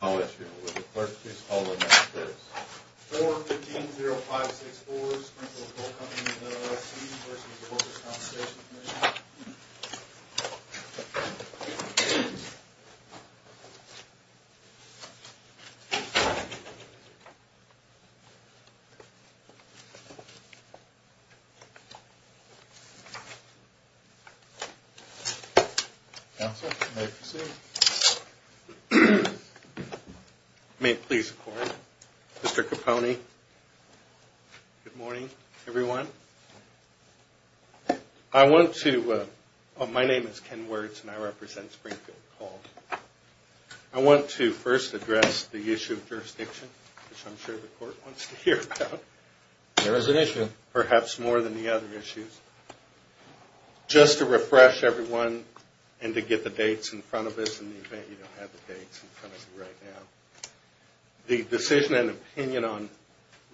I'll ask you, Mr. Clerk, to call the next case. 4-15-0564, Springfield Coal Company, LLC v. Workers' Compensation Comm'n Counsel, may I proceed? May it please the Court. Mr. Capone, good morning, everyone. I want to, my name is Ken Wirtz and I represent Springfield Coal. I want to first address the issue of jurisdiction, which I'm sure the Court wants to hear about. There is an issue. Perhaps more than the other issues. Just to refresh everyone and to get the dates in front of us in the event you don't have the dates in front of you right now. The decision and opinion on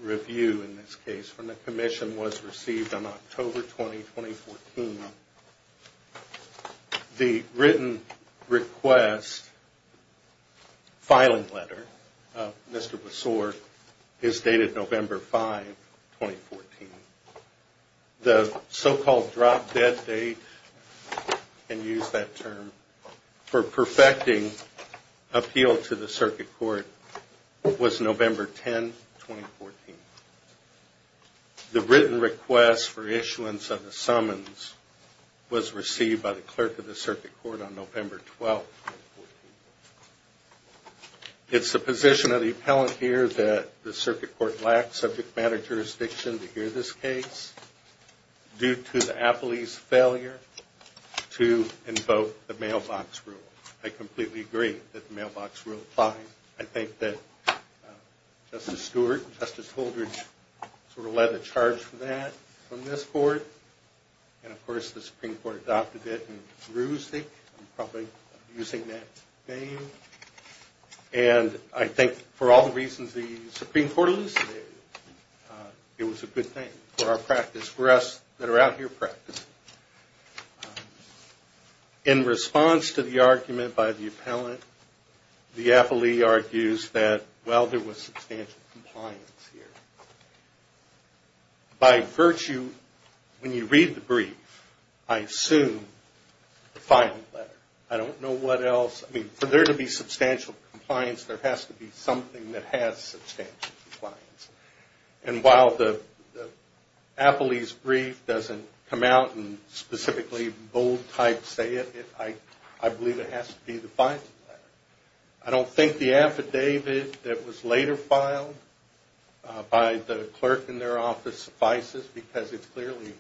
review in this case from the Commission was received on October 20, 2014. The written request filing letter of Mr. Bessort is dated November 5, 2014. The so-called drop-dead date, you can use that term, for perfecting appeal to the Circuit Court was November 10, 2014. The written request for issuance of the summons was received by the Clerk of the Circuit Court on November 12, 2014. It's the position of the appellant here that the Circuit Court lacks subject matter jurisdiction to hear this case due to the appellee's failure to invoke the mailbox rule. I completely agree that the mailbox rule applies. I think that Justice Stewart and Justice Holdridge sort of led the charge for that on this Court. And of course, the Supreme Court adopted it. And I think for all the reasons the Supreme Court elucidated, it was a good thing for our practice. In response to the argument by the appellant, the appellee argues that, well, there was substantial compliance here. By virtue, when you read the brief, I assume the filing letter. I don't know what else. For there to be substantial compliance, there has to be something that has substantial compliance. And while the appellee's brief doesn't come out and specifically bold-type say it, I believe it has to be the filing letter. I don't think the affidavit that was later filed by the clerk in their office suffices because it's clearly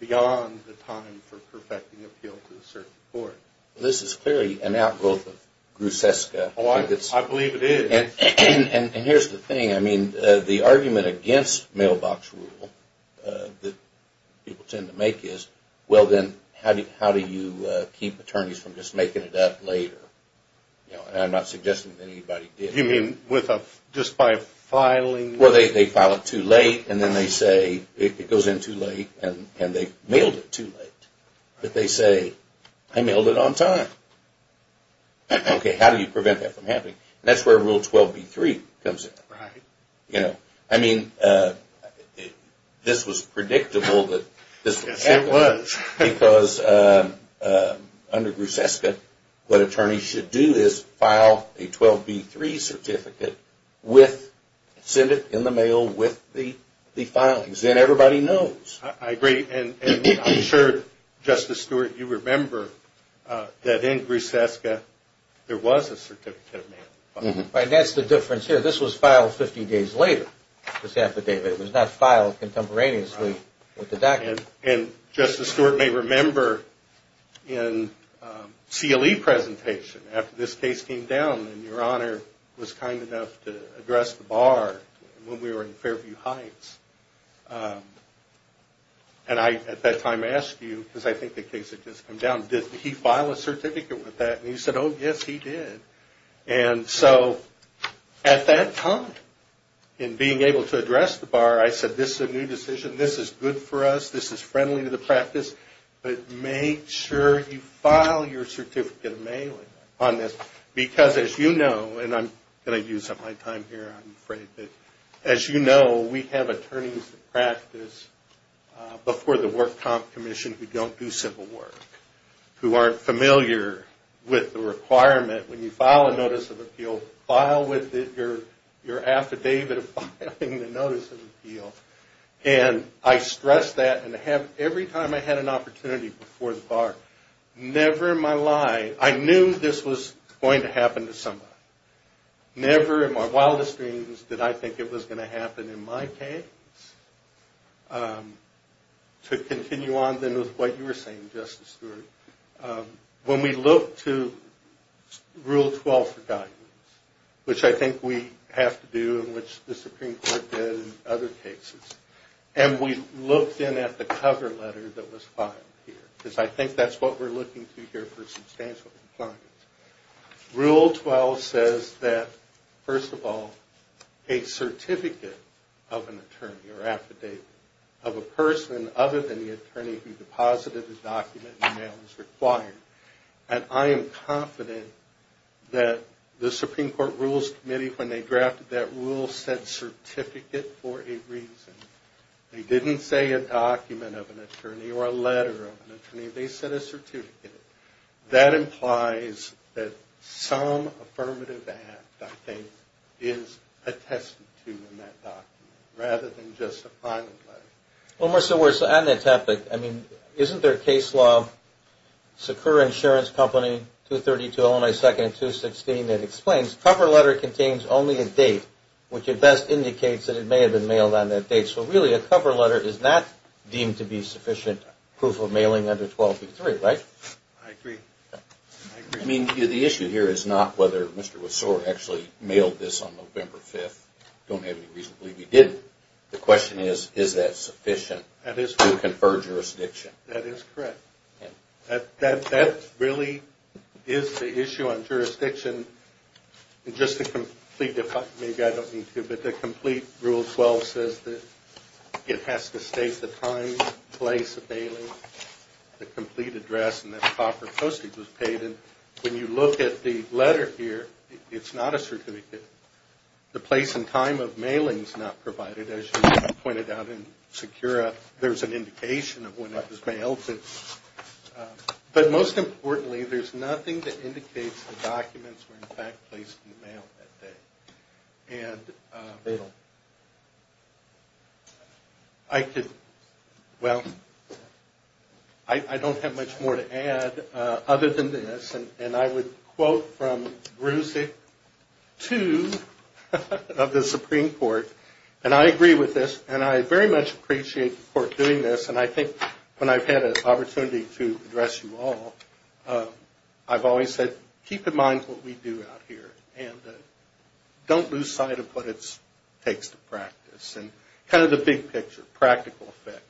beyond the time for perfecting appeal to the Circuit Court. This is clearly an outgrowth of Gruseska. I believe it is. And here's the thing. I mean, the argument against mailbox rule that people tend to make is, well, then, how do you keep attorneys from just making it up later? And I'm not suggesting that anybody did. You mean just by filing? Well, they file it too late, and then they say it goes in too late, and they mailed it too late. But they say, I mailed it on time. Okay, how do you prevent that from happening? That's where Rule 12b-3 comes in. Right. I mean, this was predictable. Yes, it was. Because under Gruseska, what attorneys should do is file a 12b-3 certificate, send it in the mail with the filings. Then everybody knows. I agree. And I'm sure, Justice Stewart, you remember that in Gruseska, there was a certificate. Right, and that's the difference here. This was filed 50 days later, this affidavit. It was not filed contemporaneously with the document. And Justice Stewart may remember in CLE presentation, after this case came down, and Your Honor was kind enough to address the bar when we were in Fairview Heights. And I, at that time, asked you, because I think the case had just come down, did he file a certificate with that? And you said, oh, yes, he did. And so at that time, in being able to address the bar, I said, this is a new decision. This is good for us. This is friendly to the practice. But make sure you file your certificate of mailing on this, because as you know, and I'm going to use up my time here, I'm afraid. But as you know, we have attorneys that practice before the work comp commission who don't do simple work, who aren't familiar with the requirement. When you file a notice of appeal, file with it your affidavit of filing the notice of appeal. And I stress that. And every time I had an opportunity before the bar, never in my life, I knew this was going to happen to somebody. Never in my wildest dreams did I think it was going to happen in my case. To continue on, then, with what you were saying, Justice Stewart, when we looked to Rule 12 for guidance, which I think we have to do and which the Supreme Court did in other cases, and we looked in at the cover letter that was filed here, because I think that's what we're looking to here for substantial compliance. Rule 12 says that, first of all, a certificate of an attorney or affidavit of a person other than the attorney who deposited the document in the mail is required. And I am confident that the Supreme Court Rules Committee, when they drafted that rule, said certificate for a reason. They didn't say a document of an attorney or a letter of an attorney. They said a certificate. That implies that some affirmative act, I think, is attested to in that document, rather than just a private letter. Well, Mr. Weir, so on that topic, I mean, isn't there a case law, Secure Insurance Company, 232 Illinois 2nd and 216, that explains cover letter contains only a date, which at best indicates that it may have been mailed on that date. So really, a cover letter is not deemed to be sufficient proof of mailing under 12.3, right? I agree. I mean, the issue here is not whether Mr. Wasore actually mailed this on November 5th. I don't have any reason to believe he didn't. The question is, is that sufficient to confer jurisdiction? That is correct. That really is the issue on jurisdiction. Just to complete, maybe I don't need to, but the complete Rule 12 says that it has to state the time, place of mailing, the complete address, and that proper postage was paid. And when you look at the letter here, it's not a certificate. The place and time of mailing is not provided, as you pointed out in SECURA. But most importantly, there's nothing that indicates the documents were in fact placed in the mail that day. I could, well, I don't have much more to add other than this. And I would quote from Bruesig 2 of the Supreme Court, and I agree with this, and I very much appreciate the Court doing this. And I think when I've had an opportunity to address you all, I've always said, keep in mind what we do out here and don't lose sight of what it takes to practice. And kind of the big picture, practical effect.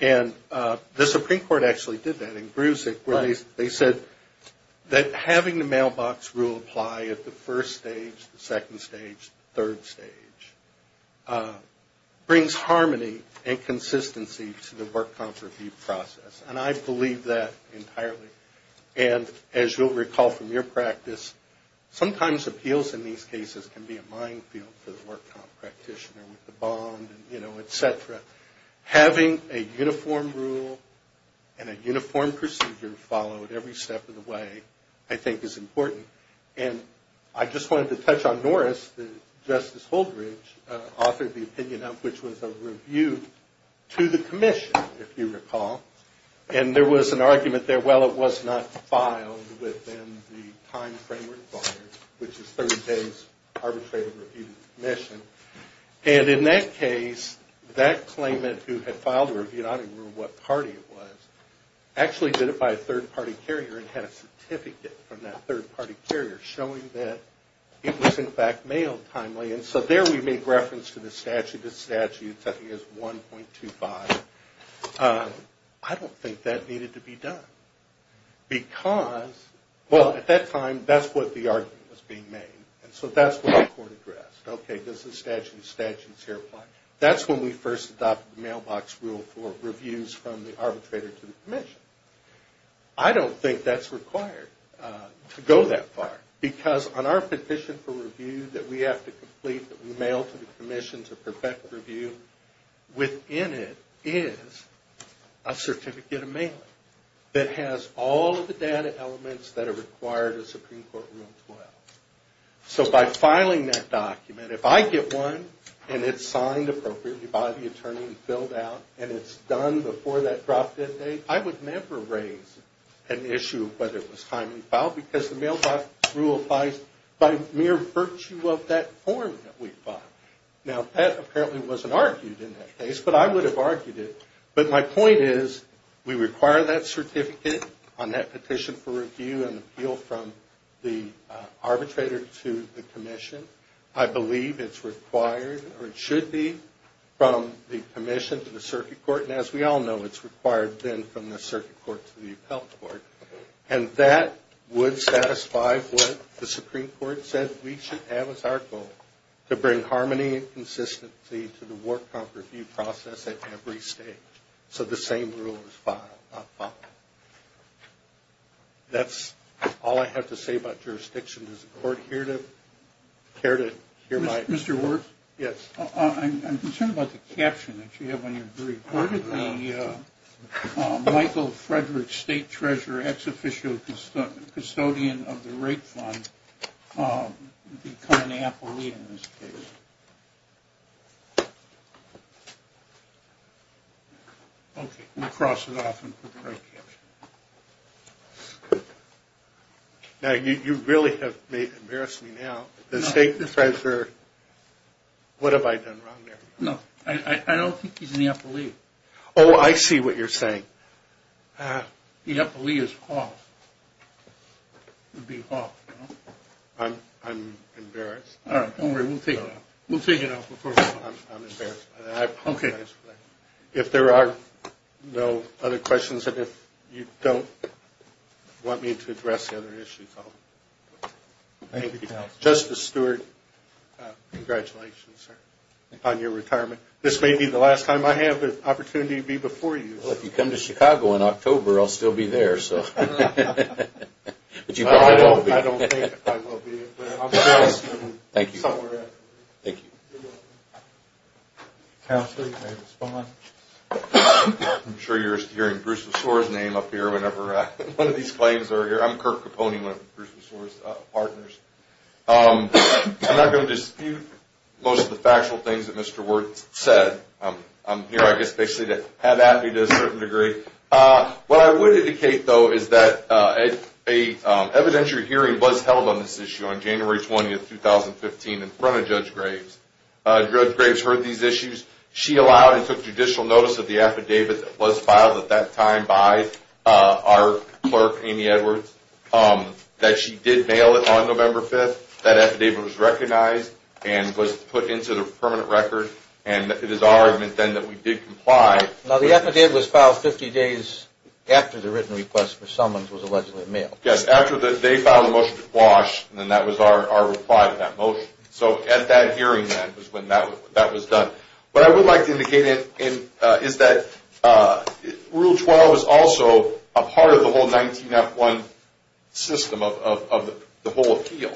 And the Supreme Court actually did that in Bruesig where they said that having the mailbox rule apply at the first stage, the second stage, third stage, brings harmony and consistency to the work comp review process. And I believe that entirely. And as you'll recall from your practice, sometimes appeals in these cases can be a minefield for the work comp practitioner with the bond and, you know, et cetera. Having a uniform rule and a uniform procedure followed every step of the way I think is important. And I just wanted to touch on Norris. Justice Holdridge authored the opinion of which was a review to the commission, if you recall. And there was an argument there, well, it was not filed within the time frame required, which is 30 days arbitrated review of the commission. And in that case, that claimant who had filed the review, I don't even remember what party it was, actually did it by a third-party carrier and had a certificate from that third-party carrier showing that it was in fact mailed timely. And so there we make reference to the statute. The statute I think is 1.25. I don't think that needed to be done. Because, well, at that time, that's what the argument was being made. And so that's what our court addressed. Okay, does the statute of statutes here apply? That's when we first adopted the mailbox rule for reviews from the arbitrator to the commission. I don't think that's required to go that far. Because on our petition for review that we have to complete, that we mail to the commission to perfect the review, within it is a certificate of mailing that has all of the data elements that are required in Supreme Court Rule 12. So by filing that document, if I get one and it's signed appropriately by the attorney and filled out and it's done before that drop-dead date, I would never raise an issue of whether it was timely filed because the mailbox rule applies by mere virtue of that form that we filed. Now that apparently wasn't argued in that case, but I would have argued it. But my point is we require that certificate on that petition for review and appeal from the arbitrator to the commission. I believe it's required, or it should be, from the commission to the circuit court. And as we all know, it's required then from the circuit court to the appellate court. And that would satisfy what the Supreme Court said we should have as our goal, to bring harmony and consistency to the work comp review process at every stage. So the same rule is filed. That's all I have to say about jurisdiction. Does the court care to hear my... Mr. Ward? Yes. I'm concerned about the caption that you have on your brief. Where did the Michael Frederick State Treasurer ex-officio custodian of the rape fund become an appellee in this case? Okay, we'll cross it off and put the right caption. Now, you really have embarrassed me now. The State Treasurer... What have I done wrong there? No, I don't think he's an appellee. Oh, I see what you're saying. The appellee is Hoff. It would be Hoff, no? I'm embarrassed. All right, don't worry. We'll take it off. We'll take it off before we... I'm embarrassed by that. Okay. I apologize for that. If there are no other questions, and if you don't want me to address the other issues, I'll... Justice Stewart, congratulations on your retirement. This may be the last time I have the opportunity to be before you. Well, if you come to Chicago in October, I'll still be there, so... I don't think I will be, but I'm sure I'll still be somewhere. Thank you. You're welcome. Counsel, you may respond. I'm sure you're hearing Bruce Lesore's name up here whenever one of these claims are here. I'm Kirk Capone, one of Bruce Lesore's partners. I'm not going to dispute most of the factual things that Mr. Wertz said. I'm here, I guess, basically to have at me to a certain degree. What I would indicate, though, is that an evidentiary hearing was held on this issue on January 20, 2015, in front of Judge Graves. Judge Graves heard these issues. She allowed and took judicial notice of the affidavit that was filed at that time by our clerk, Amy Edwards, that she did mail it on November 5th. That affidavit was recognized and was put into the permanent record, and it is our argument then that we did comply. Now, the affidavit was filed 50 days after the written request for summons was allegedly mailed. Yes, after they filed the motion to quash, and that was our reply to that motion. So at that hearing then was when that was done. What I would like to indicate is that Rule 12 is also a part of the whole 19F1 system of the whole appeal.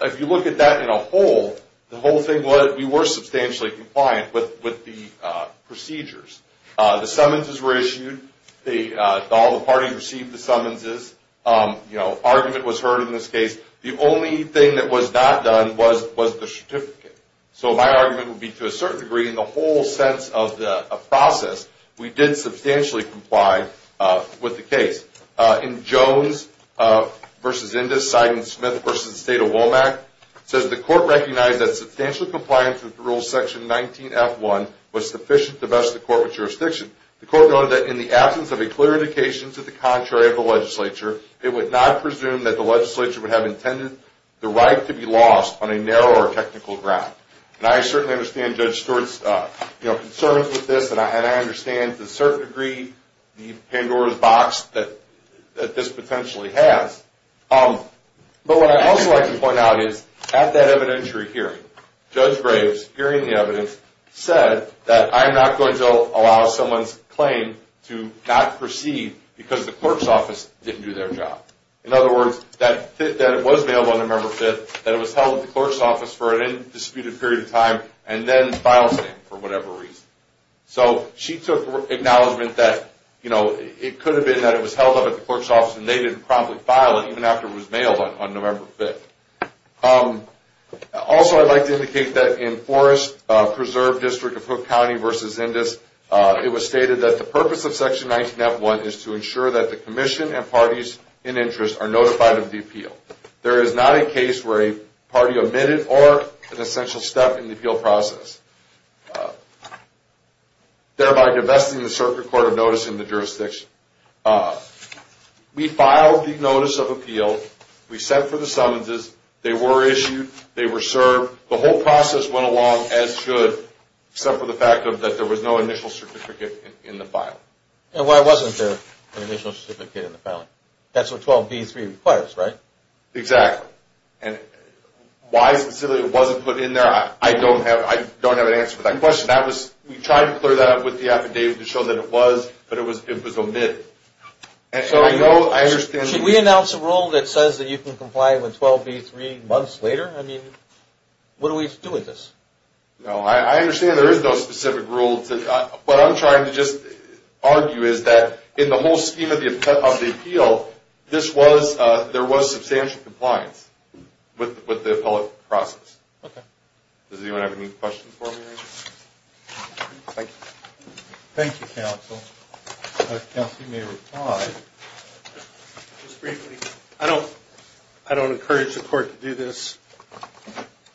If you look at that in a whole, the whole thing was we were substantially compliant with the procedures. The summonses were issued. All the parties received the summonses. Argument was heard in this case. The only thing that was not done was the certificate. So my argument would be to a certain degree, in the whole sense of the process, we did substantially comply with the case. In Jones v. Indus, Sidon Smith v. State of Womack, it says the court recognized that substantial compliance with Rule 19F1 was sufficient to best the court with jurisdiction. The court noted that in the absence of a clear indication to the contrary of the legislature, it would not presume that the legislature would have intended the right to be lost on a narrow or technical ground. And I certainly understand Judge Stewart's concerns with this, and I understand to a certain degree the Pandora's box that this potentially has. But what I'd also like to point out is at that evidentiary hearing, Judge Graves, hearing the evidence, said that I am not going to allow someone's claim to not proceed because the clerk's office didn't do their job. In other words, that it was mailed on November 5th, that it was held at the clerk's office for an indisputed period of time, and then filed for whatever reason. So she took acknowledgment that it could have been that it was held up at the clerk's office and they didn't promptly file it even after it was mailed on November 5th. Also, I'd like to indicate that in Forest Preserve District of Hook County v. Indus, it was stated that the purpose of Section 19F1 is to ensure that the commission and parties in interest are notified of the appeal. There is not a case where a party omitted or an essential step in the appeal process, thereby divesting the circuit court of notice in the jurisdiction. We filed the notice of appeal. We sent for the summonses. They were issued. They were served. The whole process went along as should, except for the fact that there was no initial certificate in the file. And why wasn't there an initial certificate in the file? That's what 12b3 requires, right? Exactly. And why specifically it wasn't put in there, I don't have an answer to that question. We tried to clear that up with the affidavit to show that it was, but it was omitted. And so I know, I understand. Should we announce a rule that says that you can comply with 12b3 months later? I mean, what do we do with this? No, I understand there is no specific rule. What I'm trying to just argue is that in the whole scheme of the appeal, there was substantial compliance with the appellate process. Okay. Does anyone have any questions for me? Thank you. Thank you, counsel. Counsel, you may reply. Just briefly, I don't encourage the court to do this,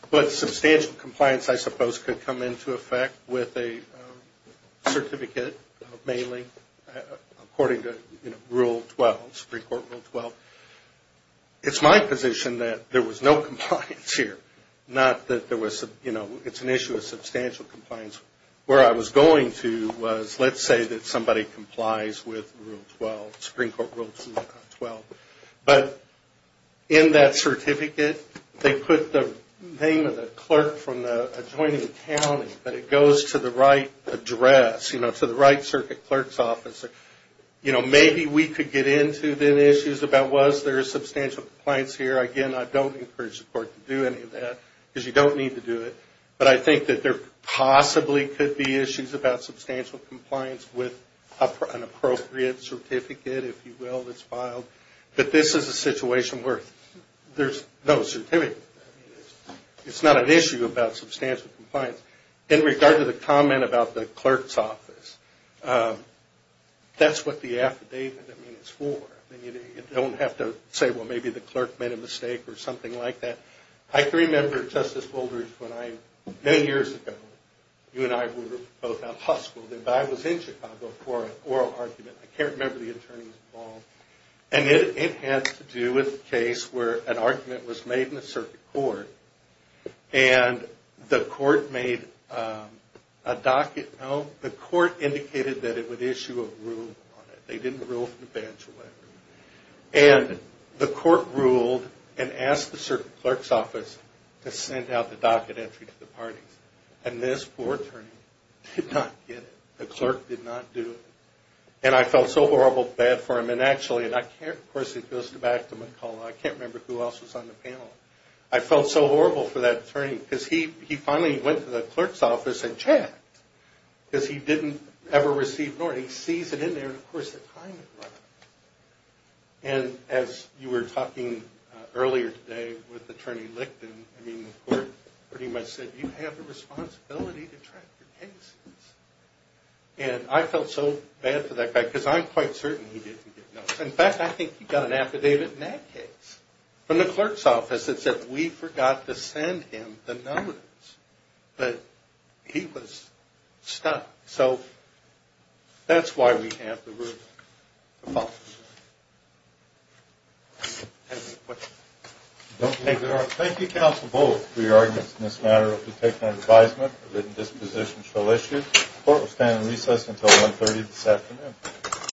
but substantial compliance I suppose could come into effect with a certificate, mainly according to Rule 12, Supreme Court Rule 12. It's my position that there was no compliance here, not that there was, you know, it's an issue of substantial compliance. Where I was going to was let's say that somebody complies with Rule 12, Supreme Court Rule 12. But in that certificate, they put the name of the clerk from the adjoining county, but it goes to the right address, you know, to the right circuit clerk's office. You know, maybe we could get into the issues about was there substantial compliance here. Again, I don't encourage the court to do any of that because you don't need to do it. But I think that there possibly could be issues about substantial compliance with an appropriate certificate, if you will, that's filed. But this is a situation where there's no certificate. It's not an issue about substantial compliance. In regard to the comment about the clerk's office, that's what the affidavit is for. You don't have to say, well, maybe the clerk made a mistake or something like that. I can remember, Justice Woldridge, when I, many years ago, you and I were both at Husk and I was in Chicago for an oral argument. I can't remember the attorneys involved. And it had to do with a case where an argument was made in the circuit court, and the court made a docket, no, the court indicated that it would issue a rule on it. They didn't rule for the bachelorette. And the court ruled and asked the circuit clerk's office to send out the docket entry to the parties. And this poor attorney did not get it. The clerk did not do it. And I felt so horrible, bad for him. And actually, and I can't, of course, it goes back to McCullough. I can't remember who else was on the panel. I felt so horrible for that attorney because he finally went to the clerk's office and checked because he didn't ever receive an order. But he sees it in there and, of course, the time had run out. And as you were talking earlier today with Attorney Licton, I mean, the court pretty much said, you have a responsibility to track your cases. And I felt so bad for that guy because I'm quite certain he didn't get noticed. In fact, I think he got an affidavit in that case from the clerk's office that said, we forgot to send him the numbers. But he was stuck. So that's why we have the ruling. Any questions? Thank you, counsel, both for your arguments in this matter. If you'd take my advisement, written dispositions shall issue. The court will stand in recess until 1.30 this afternoon.